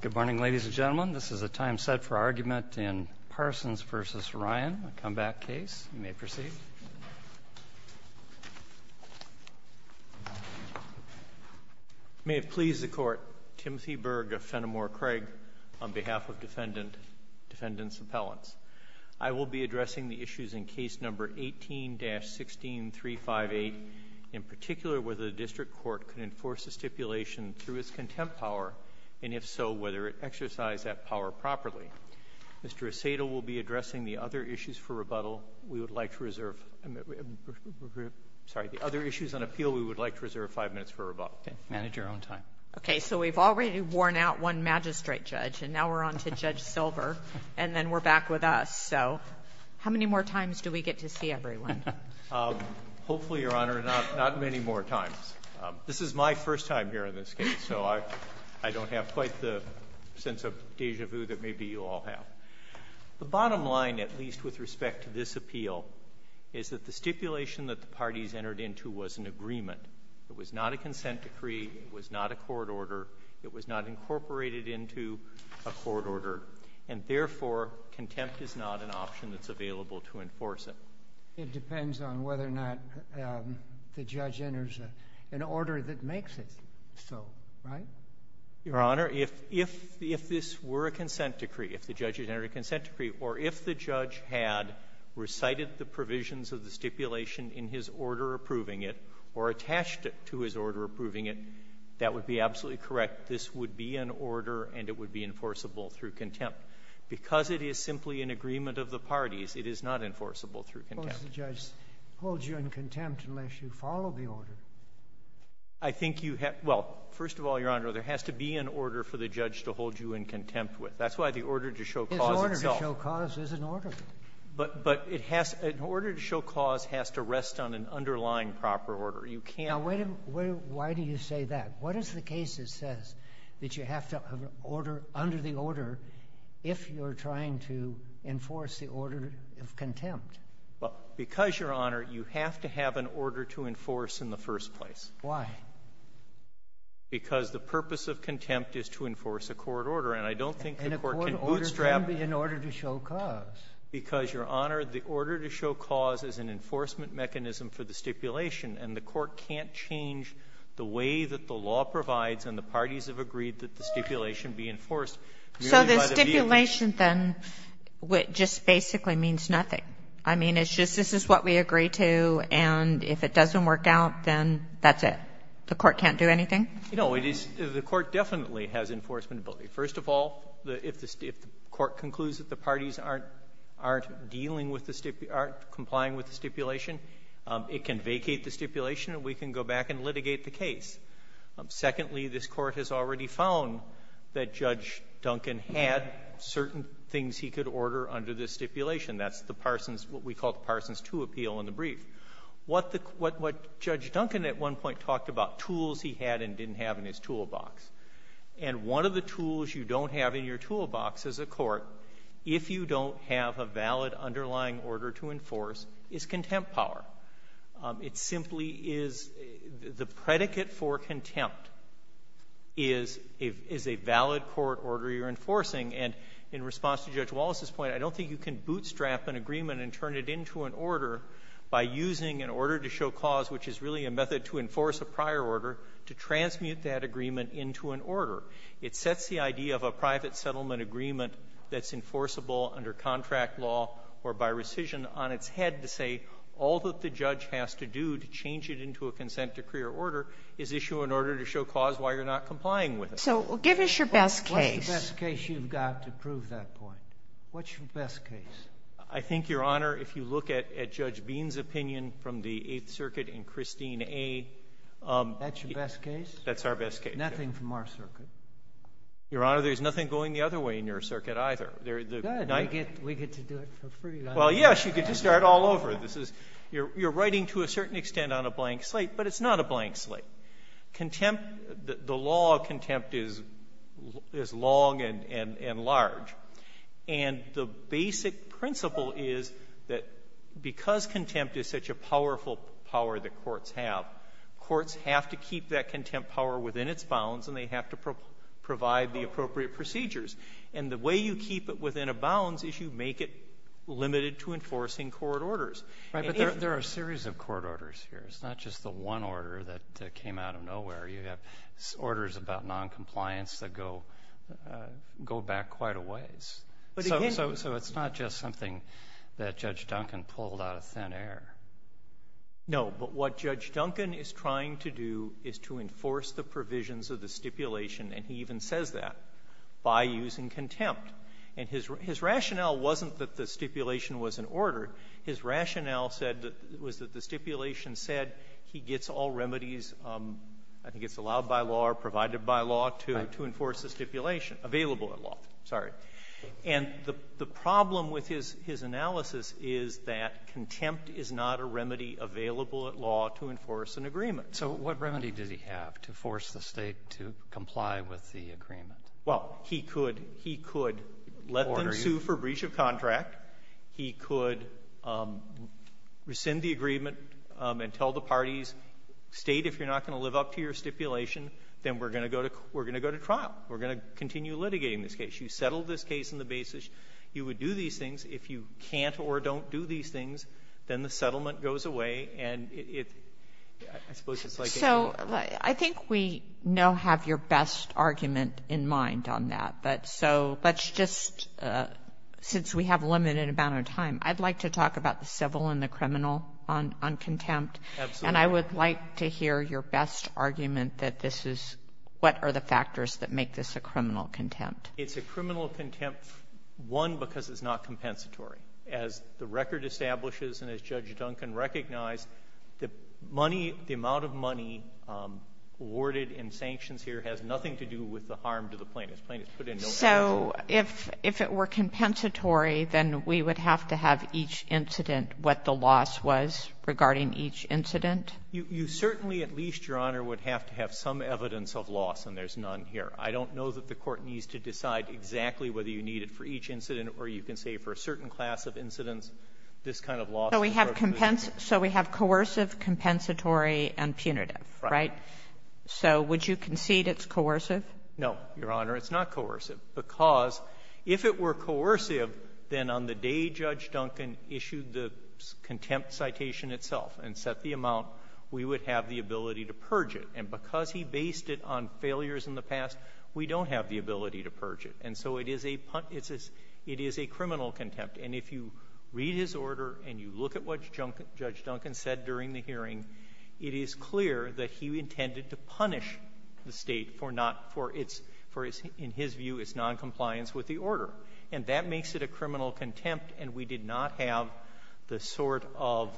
Good morning, ladies and gentlemen. This is a time set for argument in Parsons v. Ryan, a comeback case. You may proceed. May it please the Court, Timothy Berg of Fenimore Craig, on behalf of Defendant's Appellants. I will be addressing the issues in Case No. 18-16358, in particular whether the District Court can enforce a stipulation through its contempt power, and if so, whether it exercise that power properly. Mr. Asado will be addressing the other issues for rebuttal. We would like to reserve — sorry, the other issues on appeal we would like to reserve five minutes for rebuttal. Okay. Manage your own time. Okay. So we've already worn out one magistrate judge, and now we're on to Judge Silver, and then we're back with us. So how many more times do we get to see everyone? Hopefully, Your Honor, not many more times. This is my first time here in this case, so I don't have quite the sense of déjà vu that maybe you all have. The bottom line, at least with respect to this appeal, is that the stipulation that the parties entered into was an agreement. It was not a consent decree. It was not a court order. It was not incorporated into a court order. And therefore, contempt is not an option that's available to enforce it. It depends on whether or not the judge enters an order that makes it so, right? Your Honor, if this were a consent decree, if the judge had entered a consent decree, or if the judge had recited the provisions of the stipulation in his order approving it, or attached it to his order approving it, that would be absolutely correct. This would be an order, and it would be enforceable through contempt. But because it is simply an agreement of the parties, it is not enforceable through contempt. Well, the judge holds you in contempt unless you follow the order. I think you have to — well, first of all, Your Honor, there has to be an order for the judge to hold you in contempt with. That's why the order to show cause itself — His order to show cause is an order. But it has — an order to show cause has to rest on an underlying proper order. You can't — Now, wait a minute. Why do you say that? What is the case that says that you have to have an order under the order if you're trying to enforce the order of contempt? Well, because, Your Honor, you have to have an order to enforce in the first place. Why? Because the purpose of contempt is to enforce a court order. And I don't think the Court can bootstrap — And a court order can be an order to show cause. Because, Your Honor, the order to show cause is an enforcement mechanism for the stipulation, and the Court can't change the way that the law provides and the parties have agreed that the stipulation be enforced merely by the vehicle. So the stipulation, then, just basically means nothing? I mean, it's just this is what we agree to, and if it doesn't work out, then that's it? The Court can't do anything? No. It is — the Court definitely has enforcement ability. First of all, if the Court concludes that the parties aren't dealing with the stip — aren't complying with the stipulation, it can vacate the stipulation, and we can go back and litigate the case. Secondly, this Court has already found that Judge Duncan had certain things he could order under the stipulation. That's the Parsons — what we call the Parsons II appeal in the brief. What the — what Judge Duncan at one point talked about, tools he had and didn't have in his toolbox. And one of the tools you don't have in your toolbox as a court, if you don't have a valid underlying order to enforce, is contempt power. It simply is — the predicate for contempt is a valid court order you're enforcing. And in response to Judge Wallace's point, I don't think you can bootstrap an agreement and turn it into an order by using an order to show cause, which is really a method to enforce a prior order, to transmute that agreement into an order. It sets the idea of a private settlement agreement that's enforceable under contract law or by rescission on its head to say all that the judge has to do to change it into a consent decree or order is issue an order to show cause why you're not complying with it. So give us your best case. What's the best case you've got to prove that point? What's your best case? I think, Your Honor, if you look at Judge Bean's opinion from the Eighth Circuit and Christine A. That's your best case? That's our best case. Nothing from our circuit. Your Honor, there's nothing going the other way in your circuit, either. Good. We get to do it for free, don't we? Well, yes. You get to start all over. This is you're writing to a certain extent on a blank slate, but it's not a blank slate. Contempt, the law of contempt is long and large. And the basic principle is that because contempt is such a powerful power that courts have, courts have to keep that contempt power within its bounds, and they have to provide the appropriate procedures. And the way you keep it within a bounds is you make it limited to enforcing court orders. Right. But there are a series of court orders here. It's not just the one order that came out of nowhere. You have orders about noncompliance that go back quite a ways. So it's not just something that Judge Duncan pulled out of thin air. No. But what Judge Duncan is trying to do is to enforce the provisions of the stipulation, and he even says that, by using contempt. And his rationale wasn't that the stipulation was an order. His rationale said that the stipulation said he gets all remedies, I think it's allowed by law or provided by law, to enforce the stipulation, available at law. Sorry. And the problem with his analysis is that contempt is not a remedy available at law to enforce an agreement. So what remedy does he have to force the State to comply with the agreement? Well, he could let them sue for breach of contract. He could rescind the agreement and tell the parties, State, if you're not going to live up to your stipulation, then we're going to go to trial. We're going to continue litigating this case. You settled this case in the basis. You would do these things. If you can't or don't do these things, then the settlement goes away, and it — I suppose So I think we now have your best argument in mind on that. But so let's just — since we have a limited amount of time, I'd like to talk about the civil and the criminal on contempt. Absolutely. And I would like to hear your best argument that this is — what are the factors that make this a criminal contempt? It's a criminal contempt, one, because it's not compensatory. As the record establishes and as Judge Duncan recognized, the money — the amount of money awarded in sanctions here has nothing to do with the harm to the plaintiff. Plaintiff's put in no cash. So if it were compensatory, then we would have to have each incident what the loss was regarding each incident? You certainly, at least, Your Honor, would have to have some evidence of loss, and there's none here. I don't know that the Court needs to decide exactly whether you need it for each incident, or you can say for a certain class of incidents, this kind of loss is probably So we have — so we have coercive, compensatory, and fraudulent. punitive, right? So would you concede it's coercive? No, Your Honor. It's not coercive, because if it were coercive, then on the day Judge Duncan issued the contempt citation itself and set the amount, we would have the ability to purge it. And because he based it on failures in the past, we don't have the ability to purge it. And so it is a — it is a criminal contempt. And if you read his order and you look at what Judge Duncan said during the hearing, it is clear that he intended to punish the State for not — for its — for, in his view, its noncompliance with the order. And that makes it a criminal contempt, and we did not have the sort of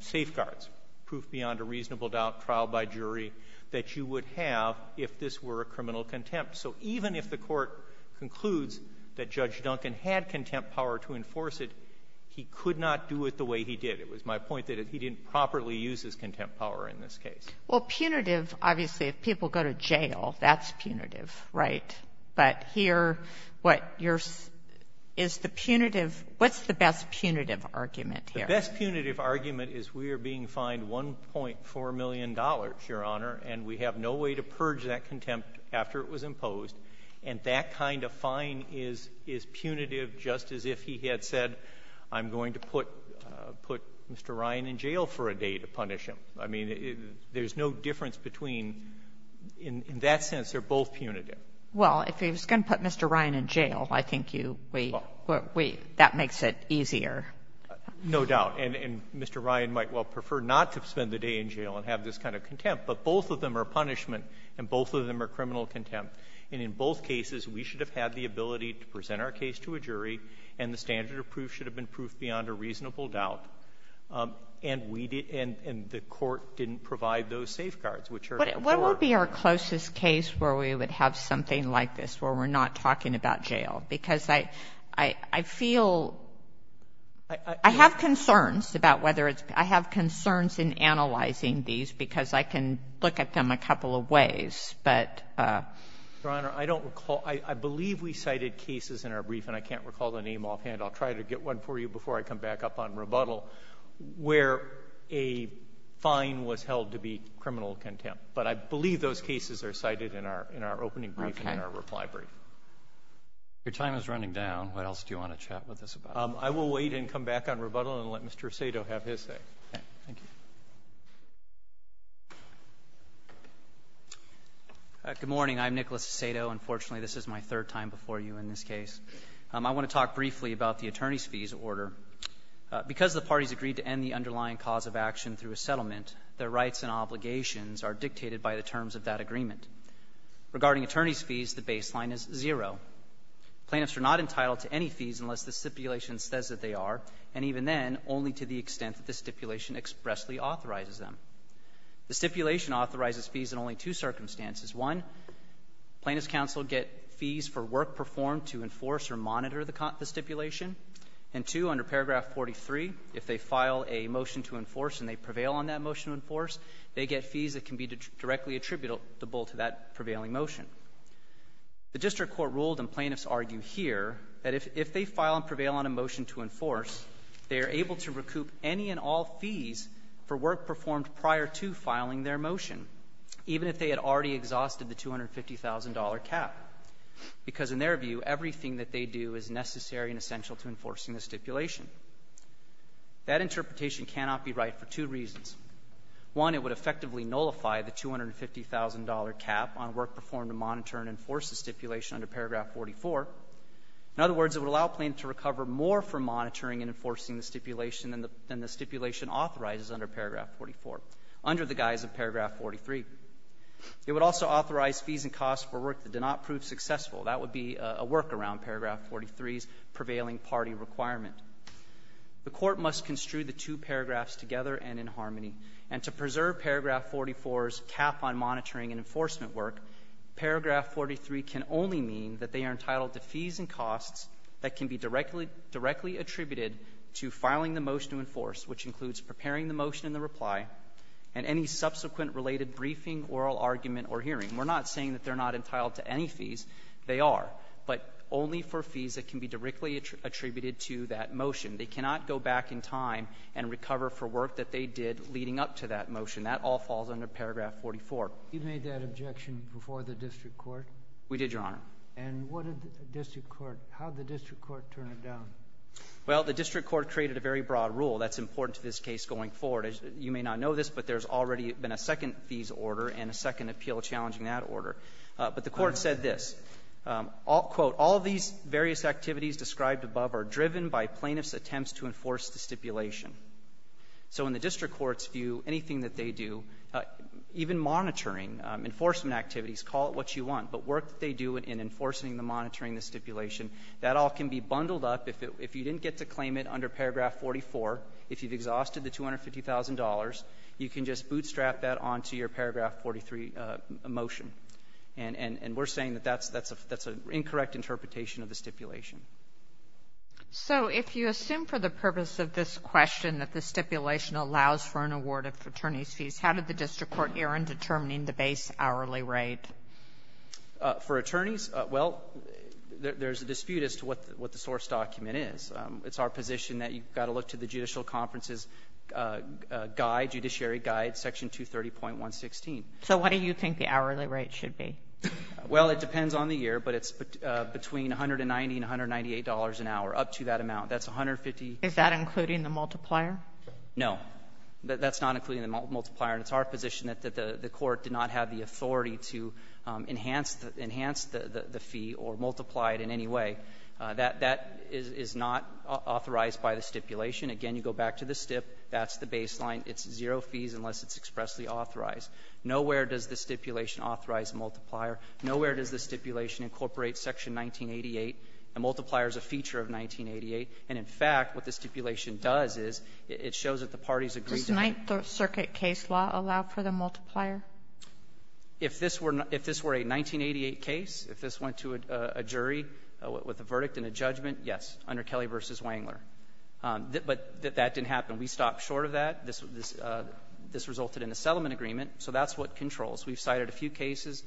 safeguards, proof beyond a reasonable doubt, trial by jury, that you would have if this were a criminal contempt. So even if the Court concludes that Judge Duncan had contempt power to enforce it, he could not do it the way he did. It was my point that he didn't properly use his contempt power in this case. Well, punitive, obviously, if people go to jail, that's punitive, right? But here, what your — is the punitive — what's the best punitive argument here? The best punitive argument is we are being fined $1.4 million, Your Honor, and we have no way to purge that contempt after it was imposed. And that kind of fine is — is punitive, just as if he had said, I'm going to put — put Mr. Ryan in jail for a day to punish him. I mean, there's no difference between — in that sense, they're both punitive. Well, if he was going to put Mr. Ryan in jail, I think you — we — we — that makes it easier. No doubt. And — and Mr. Ryan might well prefer not to spend the day in jail and have this kind of contempt, but both of them are punishment, and both of them are criminal contempt. And in both cases, we should have had the ability to present our case to a jury, and the standard of proof should have been proof beyond a reasonable doubt. And we did — and — and the Court didn't provide those safeguards, which are — What would be our closest case where we would have something like this, where we're not talking about jail? Because I — I — I feel — I have concerns about whether it's — I have concerns in analyzing these, because I can look at them a couple of ways, but — Your Honor, I don't recall — I — I believe we cited cases in our brief, and I can't recall the name offhand. I'll try to get one for you before I come back up on rebuttal, where a fine was held to be criminal contempt. But I believe those cases are cited in our — in our opening brief and in our reply brief. Okay. Your time is running down. What else do you want to chat with us about? I will wait and come back on rebuttal and let Mr. Sato have his say. Okay. Thank you. Good morning. I'm Nicholas Sato. Unfortunately, this is my third time before you in this case. I want to talk briefly about the attorney's fees order. Because the parties agreed to end the underlying cause of action through a settlement, their rights and obligations are dictated by the terms of that agreement. Regarding attorney's fees, the baseline is zero. Plaintiffs are not entitled to any fees unless the stipulation says that they are, and even then, only to the extent that the agency authorizes them. The stipulation authorizes fees in only two circumstances. One, plaintiffs' counsel get fees for work performed to enforce or monitor the stipulation. And, two, under paragraph 43, if they file a motion to enforce and they prevail on that motion to enforce, they get fees that can be directly attributable to that prevailing motion. The district court ruled, and plaintiffs argue here, that if — if they file and prevail on a motion to enforce, they are able to recoup any and all fees for work performed prior to filing their motion, even if they had already exhausted the $250,000 cap. Because in their view, everything that they do is necessary and essential to enforcing the stipulation. That interpretation cannot be right for two reasons. One, it would effectively nullify the $250,000 cap on work performed to monitor and enforce the stipulation under paragraph 44. In other words, it would allow plaintiffs to recover more for monitoring and enforcing the stipulation than the stipulation authorizes under paragraph 44, under the guise of paragraph 43. It would also authorize fees and costs for work that did not prove successful. That would be a workaround paragraph 43's prevailing party requirement. The Court must construe the two paragraphs together and in harmony. And to preserve paragraph 44's cap on monitoring and enforcement work, paragraph 43 can only mean that they are entitled to fees and costs that can be directly attributed to filing the motion to enforce, which includes preparing the motion and the reply, and any subsequent related briefing, oral argument, or hearing. We're not saying that they're not entitled to any fees. They are. But only for fees that can be directly attributed to that motion. They cannot go back in time and recover for work that they did leading up to that motion. That all falls under paragraph 44. You made that objection before the district court? We did, Your Honor. And what did the district court — how did the district court turn it down? Well, the district court created a very broad rule. That's important to this case going forward. As you may not know this, but there's already been a second fees order and a second appeal challenging that order. But the court said this, quote, all these various activities described above are driven by plaintiff's attempts to enforce the stipulation. So in the district court's view, anything that they do, even monitoring, enforcement activities, call it what you want, but work that they do in enforcing the monitoring stipulation, that all can be bundled up. If you didn't get to claim it under paragraph 44, if you've exhausted the $250,000, you can just bootstrap that onto your paragraph 43 motion. And we're saying that that's an incorrect interpretation of the stipulation. So if you assume for the purpose of this question that the stipulation allows for an award of attorneys' fees, how did the district court err in determining the base hourly rate? For attorneys, well, there's a dispute as to what the source document is. It's our position that you've got to look to the Judicial Conferences Guide, Judiciary Guide, Section 230.116. So what do you think the hourly rate should be? Well, it depends on the year, but it's between $190 and $198 an hour, up to that amount. That's $150. Is that including the multiplier? No. That's not including the multiplier. And it's our position that the court did not have the authority to enhance the fee or multiply it in any way. That is not authorized by the stipulation. Again, you go back to the STIP. That's the baseline. It's zero fees unless it's expressly authorized. Nowhere does the stipulation authorize a multiplier. Nowhere does the stipulation incorporate Section 1988. A multiplier is a feature of 1988. And in fact, what the stipulation does is it shows that the parties agree to it. Does the Circuit case law allow for the multiplier? If this were a 1988 case, if this went to a jury with a verdict and a judgment, yes, under Kelly v. Wangler. But that didn't happen. We stopped short of that. This resulted in a settlement agreement, so that's what controls. We've cited a few cases.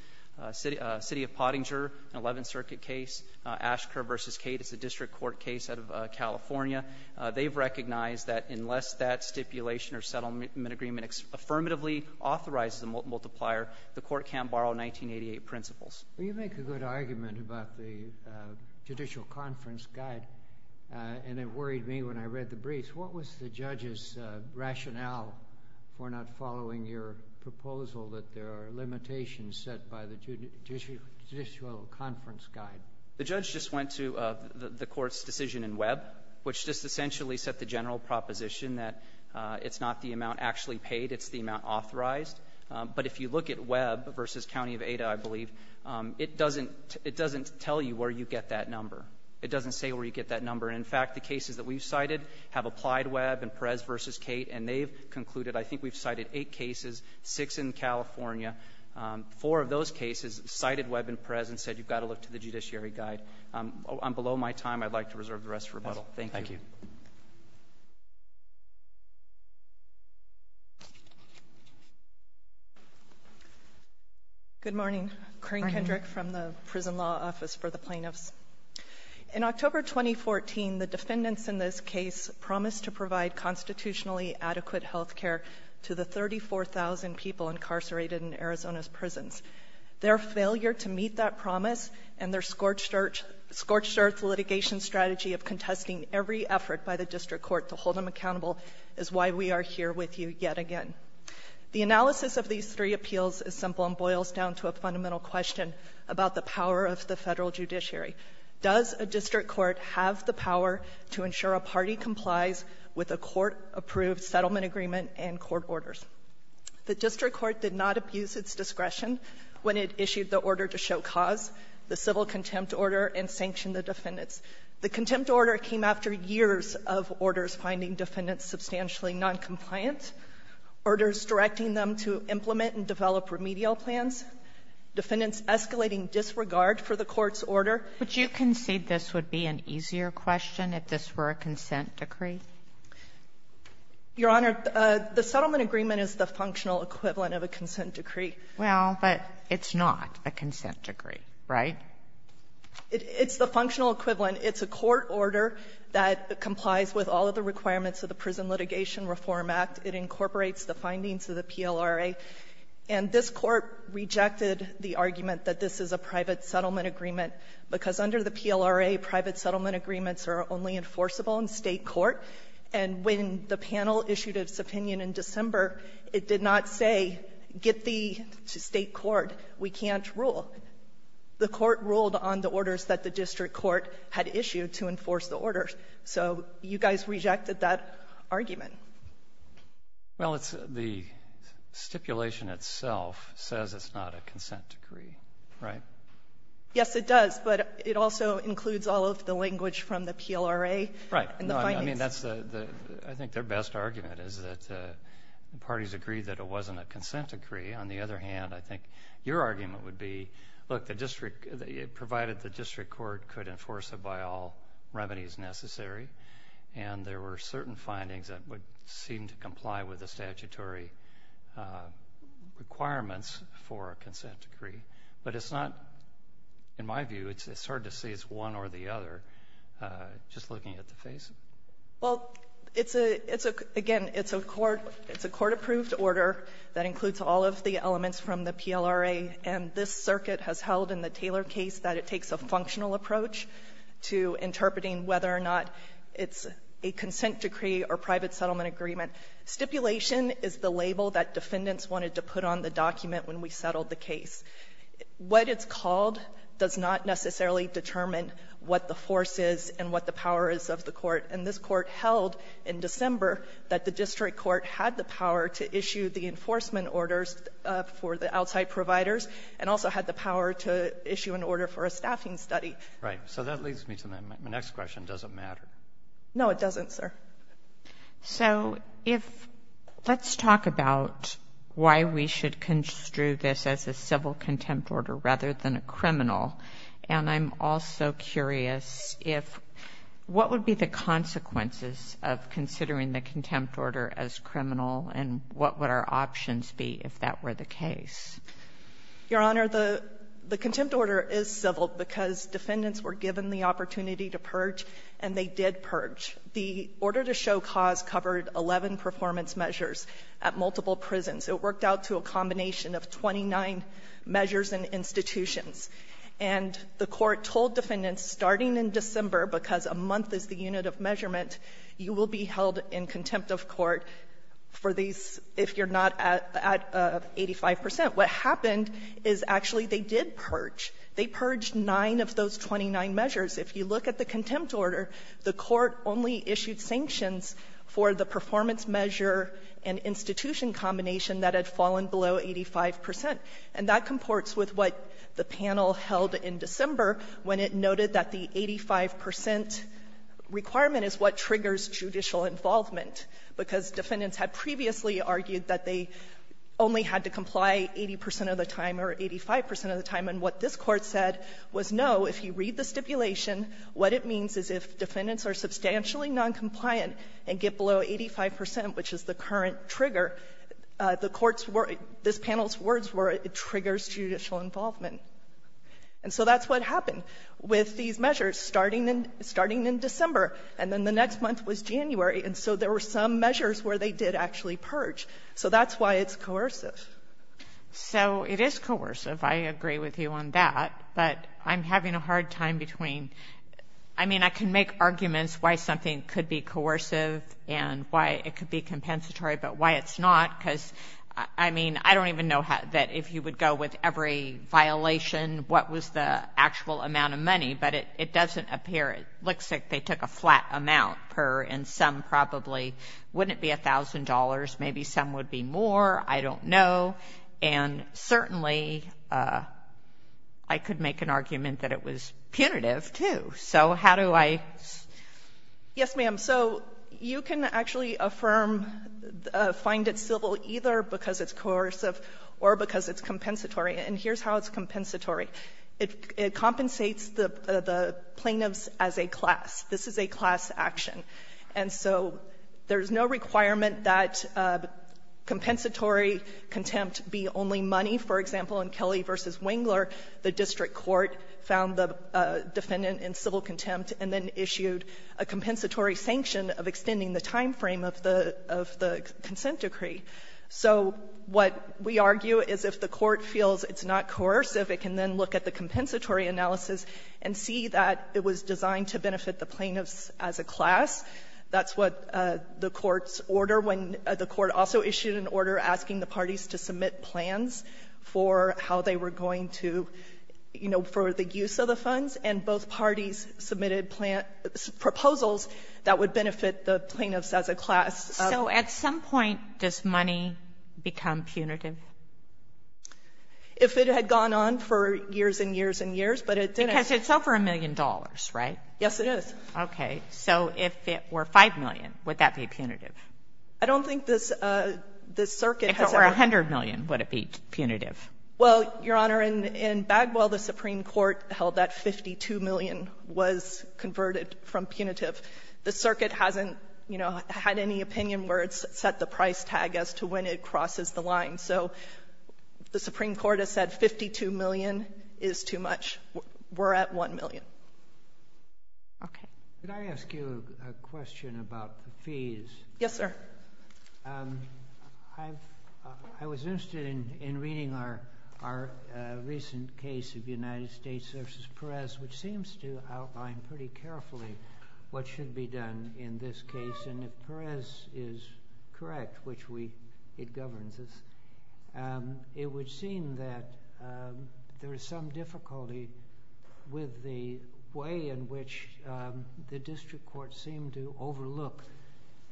City of Pottinger, an Eleventh Circuit case. Ashker v. Cate is a district court case out of California. They've recognized that unless that stipulation or settlement agreement affirmatively authorizes a multiplier, the Court can't borrow 1988 principles. Well, you make a good argument about the Judicial Conference Guide, and it worried me when I read the briefs. What was the judge's rationale for not following your proposal that there are limitations set by the Judicial Conference Guide? The judge just went to the Court's decision in Webb, which just essentially set the general proposition that it's not the amount actually paid, it's the amount authorized. But if you look at Webb v. County of Ada, I believe, it doesn't tell you where you get that number. It doesn't say where you get that number. In fact, the cases that we've cited have applied Webb and Perez v. Cate, and they've concluded I think we've cited eight cases, six in California. Four of those cases cited Webb and Perez and said you've got to look to the Judiciary Guide. I'm below my time. I'd like to reserve the rest for rebuttal. Thank you. Good morning. Corrine Kendrick from the Prison Law Office for the Plaintiffs. In October 2014, the defendants in this case promised to provide constitutionally adequate health care to the 34,000 people incarcerated in Arizona's prisons. Their failure to meet that promise and their scorched-earth litigation strategy of contesting every effort by the district court to hold them accountable is why we are here with you yet again. The analysis of these three appeals is simple and boils down to a fundamental question about the power of the Federal judiciary. Does a district court have the power to ensure a party complies with a court-approved settlement agreement and court orders? The district court did not abuse its discretion when it issued the order to show cause, the civil contempt order, and sanctioned the defendants. The contempt order came after years of orders finding defendants substantially noncompliant, orders directing them to implement and develop remedial plans, defendants escalating disregard for the court's order. Would you concede this would be an easier question if this were a consent decree? Your Honor, the settlement agreement is the functional equivalent of a consent decree. Well, but it's not a consent decree, right? It's the functional equivalent. It's a court order that complies with all of the requirements of the Prison Litigation Reform Act. It incorporates the findings of the PLRA. And this Court rejected the argument that this is a private settlement agreement, because under the PLRA, private settlement agreements are only enforceable in State court. And when the panel issued its opinion in December, it did not say, get the State court. We can't rule. The court ruled on the orders that the district court had issued to enforce the orders. So you guys rejected that argument. Well, it's the stipulation itself says it's not a consent decree, right? Yes, it does. But it also includes all of the language from the PLRA. I mean, I think their best argument is that the parties agreed that it wasn't a consent decree. On the other hand, I think your argument would be, look, provided the district court could enforce it by all remedies necessary, and there were certain findings that would seem to comply with the statutory requirements for a consent decree. But in my view, it's hard to say it's one or the other. Just looking at the face. Well, it's a – again, it's a court-approved order that includes all of the elements from the PLRA, and this circuit has held in the Taylor case that it takes a functional approach to interpreting whether or not it's a consent decree or private settlement agreement. Stipulation is the label that defendants wanted to put on the document when we settled the case. What it's called does not necessarily determine what the force is and what the power is of the court. And this court held in December that the district court had the power to issue the enforcement orders for the outside providers and also had the power to issue an order for a staffing study. Right. So that leads me to my next question. Does it matter? No, it doesn't, sir. So if – let's talk about why we should construe this as a civil contempt order rather than a criminal. And I'm also curious if – what would be the consequences of considering the contempt order as criminal, and what would our options be if that were the case? Your Honor, the contempt order is civil because defendants were given the opportunity to purge, and they did purge. The order to show cause covered 11 performance measures at multiple prisons. It worked out to a combination of 29 measures and institutions. And the court told defendants, starting in December, because a month is the unit of measurement, you will be held in contempt of court for these if you're not at 85 percent. What happened is actually they did purge. They purged nine of those 29 measures. If you look at the contempt order, the court only issued sanctions for the performance measure and institution combination that had fallen below 85 percent. And that comports with what the panel held in December when it noted that the 85 percent requirement is what triggers judicial involvement, because defendants had previously argued that they only had to comply 80 percent of the time or 85 percent of the time. And what this Court said was, no, if you read the stipulation, what it means is if defendants are substantially noncompliant and get below 85 percent, which is the current trigger, the court's words, this panel's words were, it triggers judicial involvement. And so that's what happened with these measures, starting in December, and then the next month was January. And so there were some measures where they did actually purge. So that's why it's coercive. So it is coercive. I agree with you on that. But I'm having a hard time between, I mean, I can make arguments why something could be coercive and why it could be compensatory, but why it's not, because, I mean, I don't even know that if you would go with every violation, what was the actual amount of money. But it doesn't appear, it looks like they took a flat amount per, and some probably, wouldn't it be $1,000? Maybe some would be more. I don't know. And certainly, I could make an argument that it was punitive, too. So how do I say? Yes, ma'am. So you can actually affirm, find it civil either because it's coercive or because it's compensatory. And here's how it's compensatory. It compensates the plaintiffs as a class. This is a class action. And so there's no requirement that compensatory contempt be only money. For example, in Kelly v. Wengler, the district court found the defendant in civil contempt and then issued a compensatory sanction of extending the time frame of the consent decree. So what we argue is if the court feels it's not coercive, it can then look at the compensatory analysis and see that it was designed to benefit the plaintiffs as a class. That's what the court's order when the court also issued an order asking the parties to submit plans for how they were going to, you know, for the use of the funds. And both parties submitted proposals that would benefit the plaintiffs as a class. So at some point, does money become punitive? If it had gone on for years and years and years, but it didn't. Because it's over $1 million, right? Yes, it is. Okay. So if it were $5 million, would that be punitive? I don't think this circuit has ever been. If it were $100 million, would it be punitive? Well, Your Honor, in Bagwell, the Supreme Court held that $52 million was converted from punitive. The circuit hasn't, you know, had any opinion where it's set the price tag as to when it crosses the line. So the Supreme Court has said $52 million is too much. We're at $1 million. Okay. Could I ask you a question about the fees? Yes, sir. I was interested in reading our recent case of United States v. Perez, which seems to outline pretty carefully what should be done in this case. And if Perez is correct, which we—it governs us, it would seem that there is some way in which the district court seemed to overlook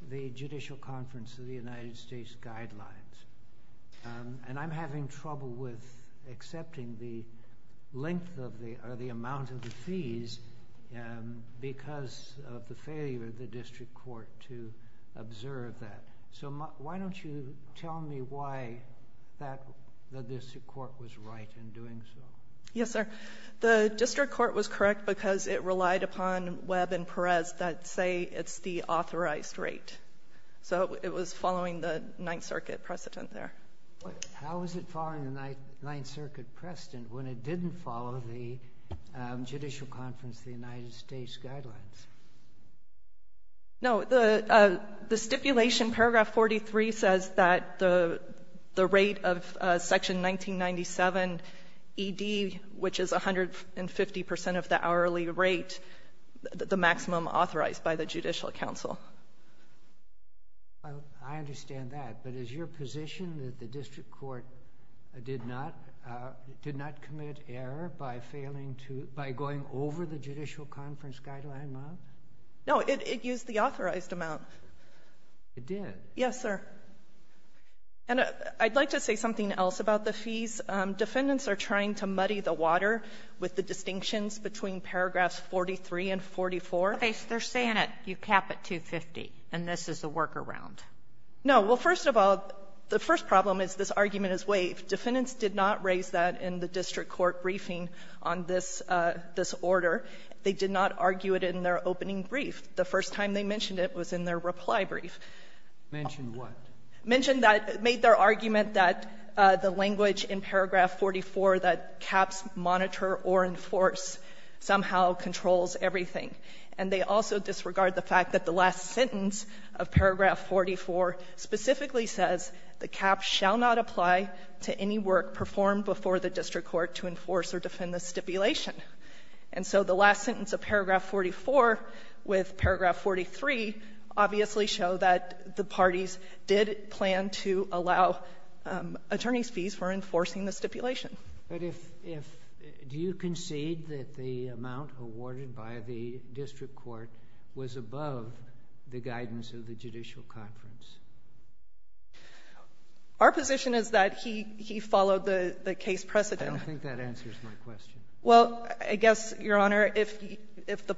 the judicial conference of the United States guidelines. And I'm having trouble with accepting the length of the—or the amount of the fees because of the failure of the district court to observe that. So why don't you tell me why that—the district court was right in doing so? Yes, sir. The district court was correct because it relied upon Webb and Perez that say it's the authorized rate. So it was following the Ninth Circuit precedent there. How is it following the Ninth Circuit precedent when it didn't follow the judicial conference of the United States guidelines? No. The stipulation, paragraph 43, says that the rate of section 1997ED, which is 150 percent of the hourly rate, the maximum authorized by the judicial counsel. I understand that. But is your position that the district court did not—did not commit error by failing to—by going over the judicial conference guideline amount? No. It used the authorized amount. It did? Yes, sir. And I'd like to say something else about the fees. Defendants are trying to muddy the water with the distinctions between paragraphs 43 and 44. They're saying that you cap at 250, and this is a workaround. No. Well, first of all, the first problem is this argument is waived. Defendants did not raise that in the district court briefing on this —this order. They did not argue it in their opening brief. The first time they mentioned it was in their reply brief. Mentioned what? Mentioned that —made their argument that the language in paragraph 44 that caps monitor or enforce somehow controls everything. And they also disregard the fact that the last sentence of paragraph 44 specifically says the caps shall not apply to any work performed before the district court to enforce or defend the stipulation. And so the last sentence of paragraph 44 with paragraph 43 obviously show that the parties did plan to allow attorneys' fees for enforcing the stipulation. But if —if —do you concede that the amount awarded by the district court was above the guidance of the judicial conference? Our position is that he —he followed the —the case precedent. I don't think that answers my question. Well, I guess, Your Honor, if —if the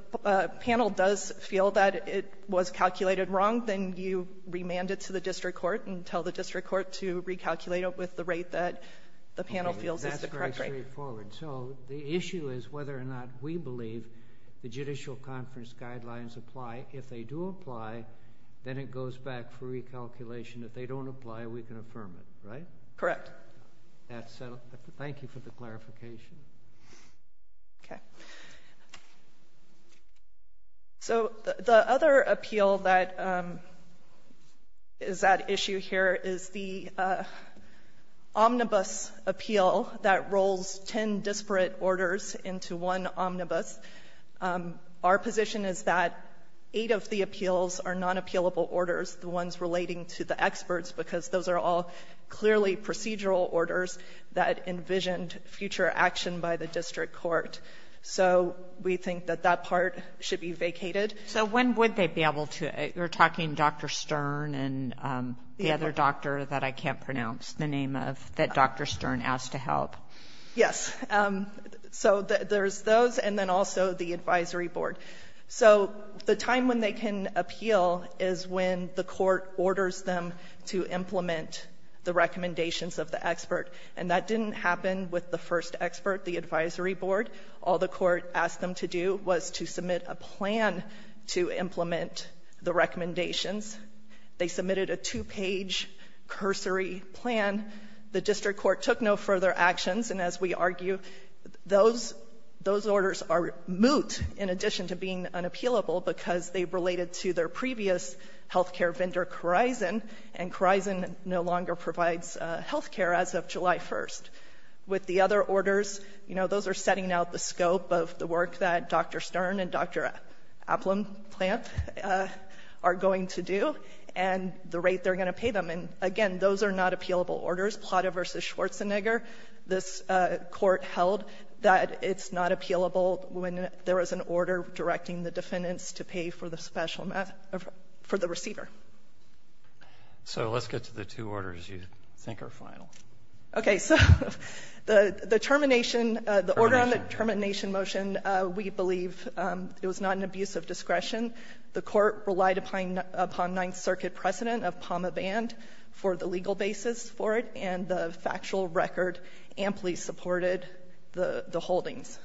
panel does feel that it was calculated wrong, then you remand it to the district court and tell the district court to recalculate it with the rate that the panel feels is the correct rate. Okay. That's very straightforward. So the issue is whether or not we believe the judicial conference guidelines apply. If they do apply, then it goes back for recalculation. If they don't apply, we can affirm it, right? Correct. That's settled. Thank you for the clarification. Thank you. Okay. So the other appeal that is at issue here is the omnibus appeal that rolls ten disparate orders into one omnibus. Our position is that eight of the appeals are non-appealable orders, the ones relating to the experts, because those are all clearly procedural orders that envisioned future action by the district court. So we think that that part should be vacated. So when would they be able to? You're talking Dr. Stern and the other doctor that I can't pronounce the name of that Dr. Stern asked to help. Yes. So there's those and then also the advisory board. So the time when they can appeal is when the court orders them to implement the recommendations of the expert. And that didn't happen with the first expert, the advisory board. All the court asked them to do was to submit a plan to implement the recommendations. They submitted a two-page cursory plan. The district court took no further actions, and as we argue, those orders are moot in addition to being unappealable because they related to their previous health care vendor, Khorizan, and Khorizan no longer provides health care as of July 1st. With the other orders, you know, those are setting out the scope of the work that Dr. Stern and Dr. Aplam-Plant are going to do and the rate they're going to pay them. And again, those are not appealable orders. Plata v. Schwarzenegger, this court held that it's not appealable when there is an So let's get to the two orders you think are final. Okay. So the termination, the order on the termination motion, we believe it was not an abuse of discretion. The court relied upon Ninth Circuit precedent of PAMA band for the legal basis for it, and the factual record amply supported the holdings.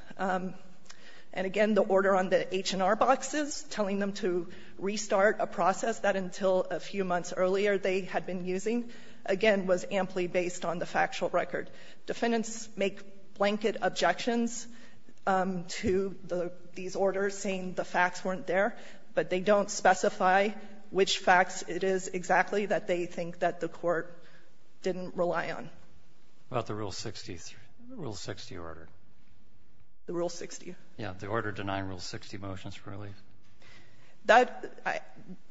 And again, the order on the H&R boxes telling them to restart a process, that until a few months earlier, they had been using, again, was amply based on the factual record. Defendants make blanket objections to these orders saying the facts weren't there, but they don't specify which facts it is exactly that they think that the court didn't rely on. About the Rule 60, Rule 60 order. The Rule 60. Yeah. The order denying Rule 60 motions for relief. That,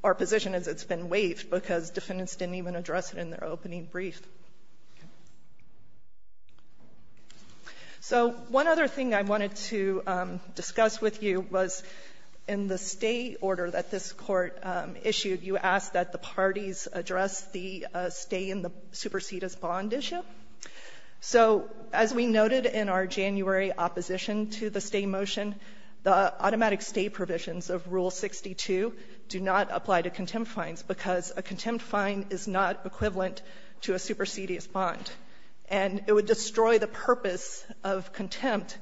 our position is it's been waived because defendants didn't even address it in their opening brief. So one other thing I wanted to discuss with you was in the stay order that this Court issued, you asked that the parties address the stay in the supersedis bond issue. So as we noted in our January opposition to the stay motion, the automatic stay provisions of Rule 62 do not apply to contempt fines, because a contempt fine is not equivalent to a supersedis bond. And it would destroy the purpose of contempt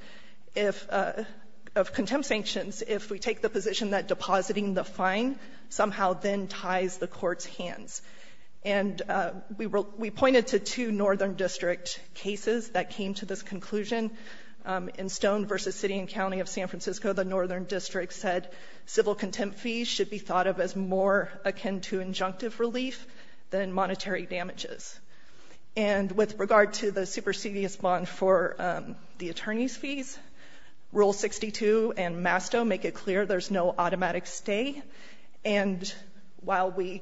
if of contempt sanctions if we take the position that depositing the fine somehow then ties the court's hands. And we pointed to two northern district cases that came to this conclusion in Stone v. City and County of San Francisco, the northern district said civil contempt fees should be thought of as more akin to injunctive relief than monetary damages. And with regard to the supersedis bond for the attorney's fees, Rule 62 and Masto make it clear there's no automatic stay. And while we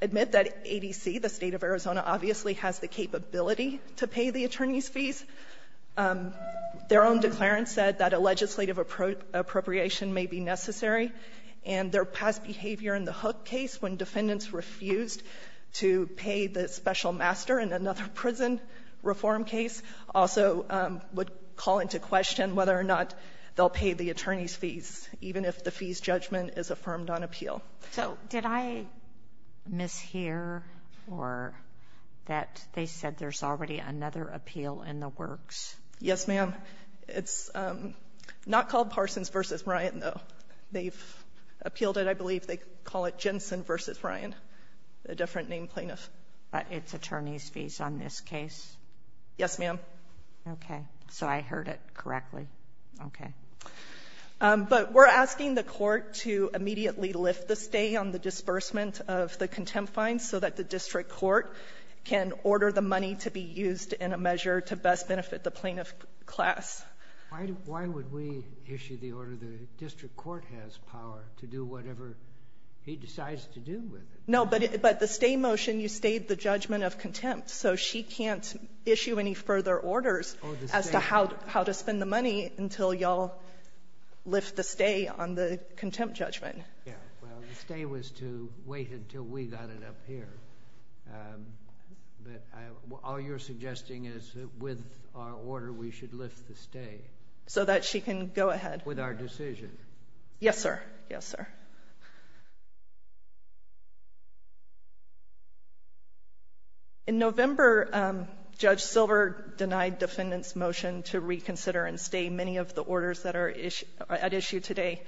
admit that ADC, the State of Arizona, obviously has the capability to pay the attorney's fees, their own declarant said that a legislative appropriation may be necessary. And their past behavior in the Hook case, when defendants refused to pay the special master in another prison reform case, also would call into question whether or not they'll pay the attorney's fees, even if the fees judgment is affirmed on appeal. So did I mishear or that they said there's already another appeal in the works? Yes, ma'am. It's not called Parsons v. Ryan, though. They've appealed it, I believe. They call it Jensen v. Ryan, a different name plaintiff. But it's attorney's fees on this case? Yes, ma'am. Okay. So I heard it correctly. Okay. But we're asking the Court to immediately lift the stay on the disbursement of the contempt fines so that the district court can order the money to be used in a measure to best benefit the plaintiff class. Why would we issue the order? The district court has power to do whatever he decides to do with it. No, but the stay motion, you stayed the judgment of contempt. So she can't issue any further orders as to how to spend the money until y'all lift the stay on the contempt judgment. Yeah. Well, the stay was to wait until we got it up here. But all you're suggesting is that with our order, we should lift the stay. So that she can go ahead. With our decision. Yes, sir. Yes, sir. In November, Judge Silver denied defendants' motion to reconsider and stay many of the orders that are at issue today.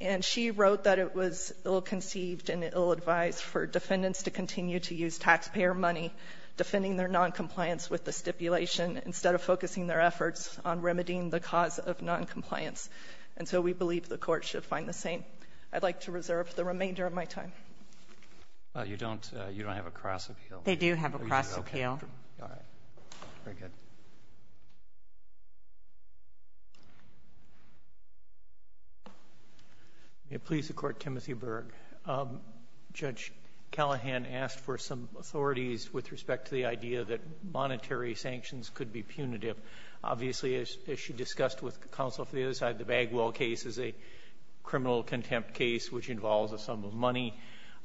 And she wrote that it was ill-conceived and ill-advised for defendants to continue to use taxpayer money defending their non-compliance with the stipulation instead of focusing their efforts on remedying the cause of non-compliance. And so we believe the Court should find the same. I'd like to reserve the remainder of my time. You don't have a cross-appeal? They do have a cross-appeal. All right. Very good. May it please the Court, Timothy Berg. Judge Callahan asked for some authorities with respect to the idea that monetary sanctions could be punitive. Obviously, as she discussed with counsel for the other side, the Bagwell case is a criminal contempt case, which involves a sum of money.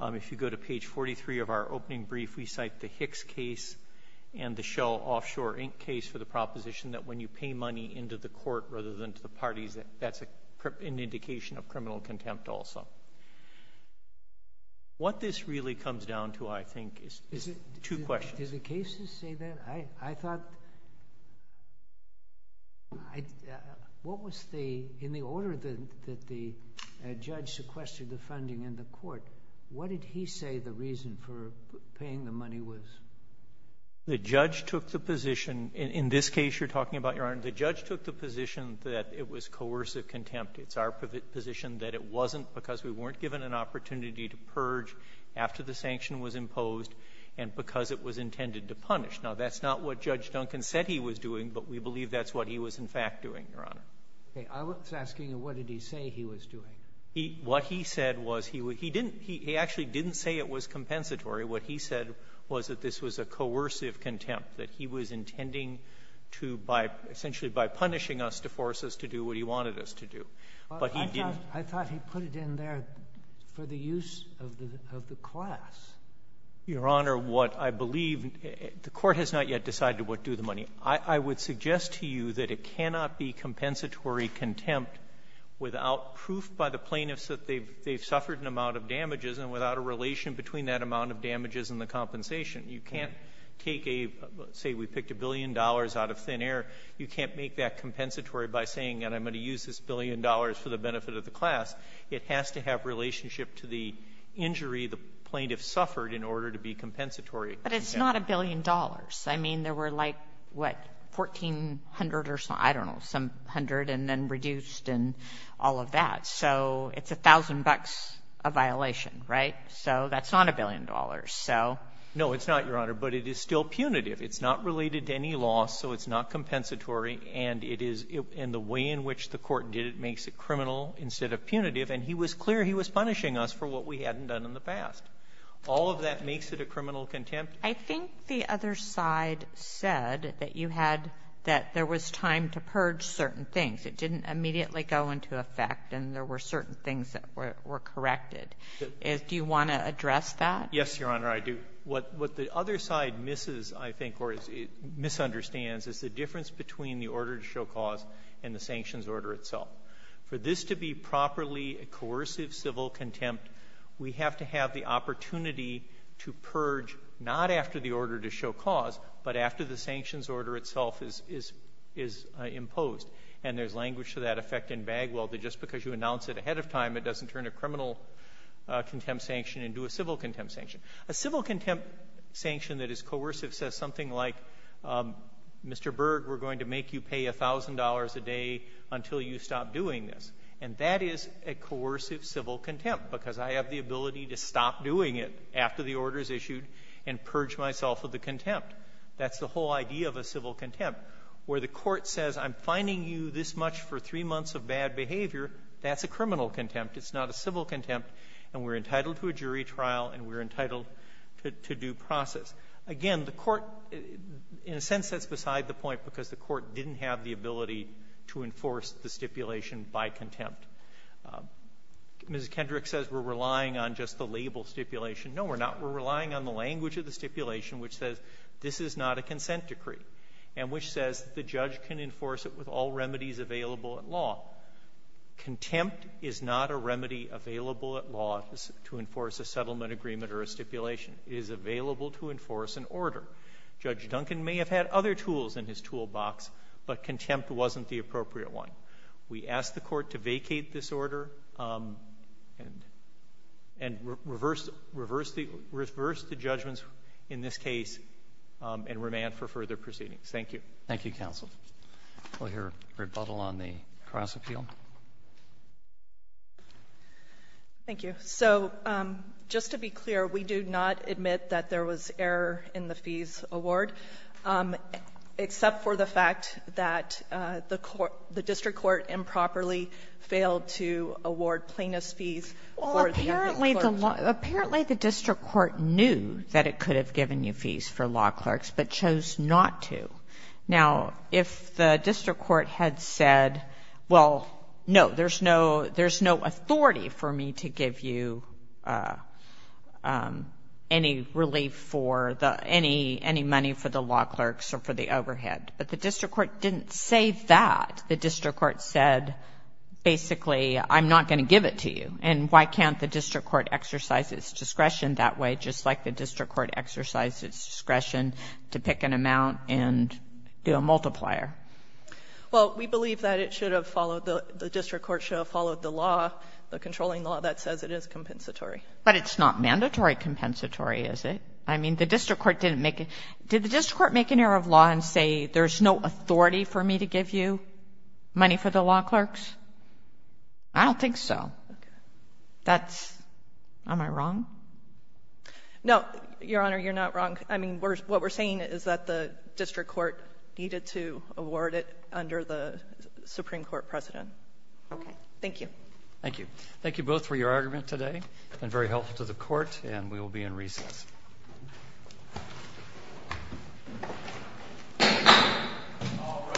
If you go to page 43 of our opening brief, we cite the Hicks case and the Shell Offshore Inc. case for the proposition that when you pay money into the court rather than to the parties, that's an indication of criminal contempt also. What this really comes down to, I think, is two questions. Did the cases say that? I thought, what was the, in the order that the judge sequestered the funding in the court, what did he say the reason for paying the money was? The judge took the position, in this case you're talking about, Your Honor, the judge took the position that it was coercive contempt. It's our position that it wasn't because we weren't given an opportunity to purge after the sanction was imposed and because it was intended to punish. Now, that's not what Judge Duncan said he was doing, but we believe that's what he was, in fact, doing, Your Honor. Okay. I was asking, what did he say he was doing? What he said was he didn't he actually didn't say it was compensatory. What he said was that this was a coercive contempt, that he was intending to, by essentially by punishing us, to force us to do what he wanted us to do, but he didn't. I thought he put it in there for the use of the class. Your Honor, what I believe, the court has not yet decided what to do with the money. I would suggest to you that it cannot be compensatory contempt without proof by the plaintiffs that they've suffered an amount of damages and without a relation between that amount of damages and the compensation. You can't take a, say we picked a billion dollars out of thin air, you can't make that compensatory by saying, and I'm going to use this billion dollars for the benefit of the class. It has to have relationship to the injury the plaintiff suffered in order to be compensatory. But it's not a billion dollars. I mean, there were like, what, 1,400 or some, I don't know, some hundred, and then reduced and all of that. So it's 1,000 bucks a violation, right? So that's not a billion dollars. So no, it's not, Your Honor, but it is still punitive. It's not related to any loss, so it's not compensatory, and it is the way in which the court did it makes it criminal instead of punitive. And he was clear he was punishing us for what we hadn't done in the past. All of that makes it a criminal contempt. I think the other side said that you had, that there was time to purge certain things. It didn't immediately go into effect, and there were certain things that were corrected. Do you want to address that? Yes, Your Honor, I do. What the other side misses, I think, or misunderstands is the difference between the order to show cause and the sanctions order itself. For this to be properly a coercive civil contempt, we have to have the opportunity to purge not after the order to show cause, but after the sanctions order itself is imposed. And there's language to that effect in Bagwell that just because you announce it ahead of time, it doesn't turn a criminal contempt sanction into a civil contempt sanction. A civil contempt sanction that is coercive says something like, Mr. Berg, we're going to make you pay $1,000 a day until you stop doing this. And that is a coercive civil contempt, because I have the ability to stop doing it after the order is issued and purge myself of the contempt. That's the whole idea of a civil contempt. Where the court says, I'm fining you this much for three months of bad behavior, that's a criminal contempt. It's not a civil contempt. And we're entitled to a jury trial, and we're entitled to due process. Again, the court, in a sense, sets beside the point because the court didn't have the ability to enforce the stipulation by contempt. Mrs. Kendrick says we're relying on just the label stipulation. No, we're not. We're relying on the language of the stipulation which says this is not a consent decree. And which says the judge can enforce it with all remedies available at law. Contempt is not a remedy available at law to enforce a settlement agreement or a stipulation. It is available to enforce an order. Judge Duncan may have had other tools in his toolbox, but contempt wasn't the appropriate one. We asked the court to vacate this order and reverse the judgments in this case and remand for further proceedings. Thank you. Roberts. Thank you, counsel. We'll hear rebuttal on the cross-appeal. Thank you. So just to be clear, we do not admit that there was error in the fees award, except for the fact that the court the district court improperly failed to award plaintiff's fees for the law clerks. Well, apparently the district court knew that it could have given you fees for law clerks, but chose not to. Now, if the district court had said, well, no, there's no authority for me to give you any relief for the any money for the law clerks or for the overhead, but the district court didn't say that. The district court said, basically, I'm not going to give it to you. And why can't the district court exercise its discretion that way, just like the district court exercised its discretion to pick an amount and do a multiplier? Well, we believe that it should have followed the district court should have followed the law, the controlling law that says it is compensatory. But it's not mandatory compensatory, is it? I mean, the district court didn't make it. Did the district court make an error of law and say, there's no authority for me to give you money for the law clerks? I don't think so. Okay. That's, am I wrong? No, Your Honor, you're not wrong. I mean, what we're saying is that the district court needed to award it under the Supreme Court precedent. Okay. Thank you. Thank you. Thank you both for your argument today, and very helpful to the Court, and we will be in recess. All rise.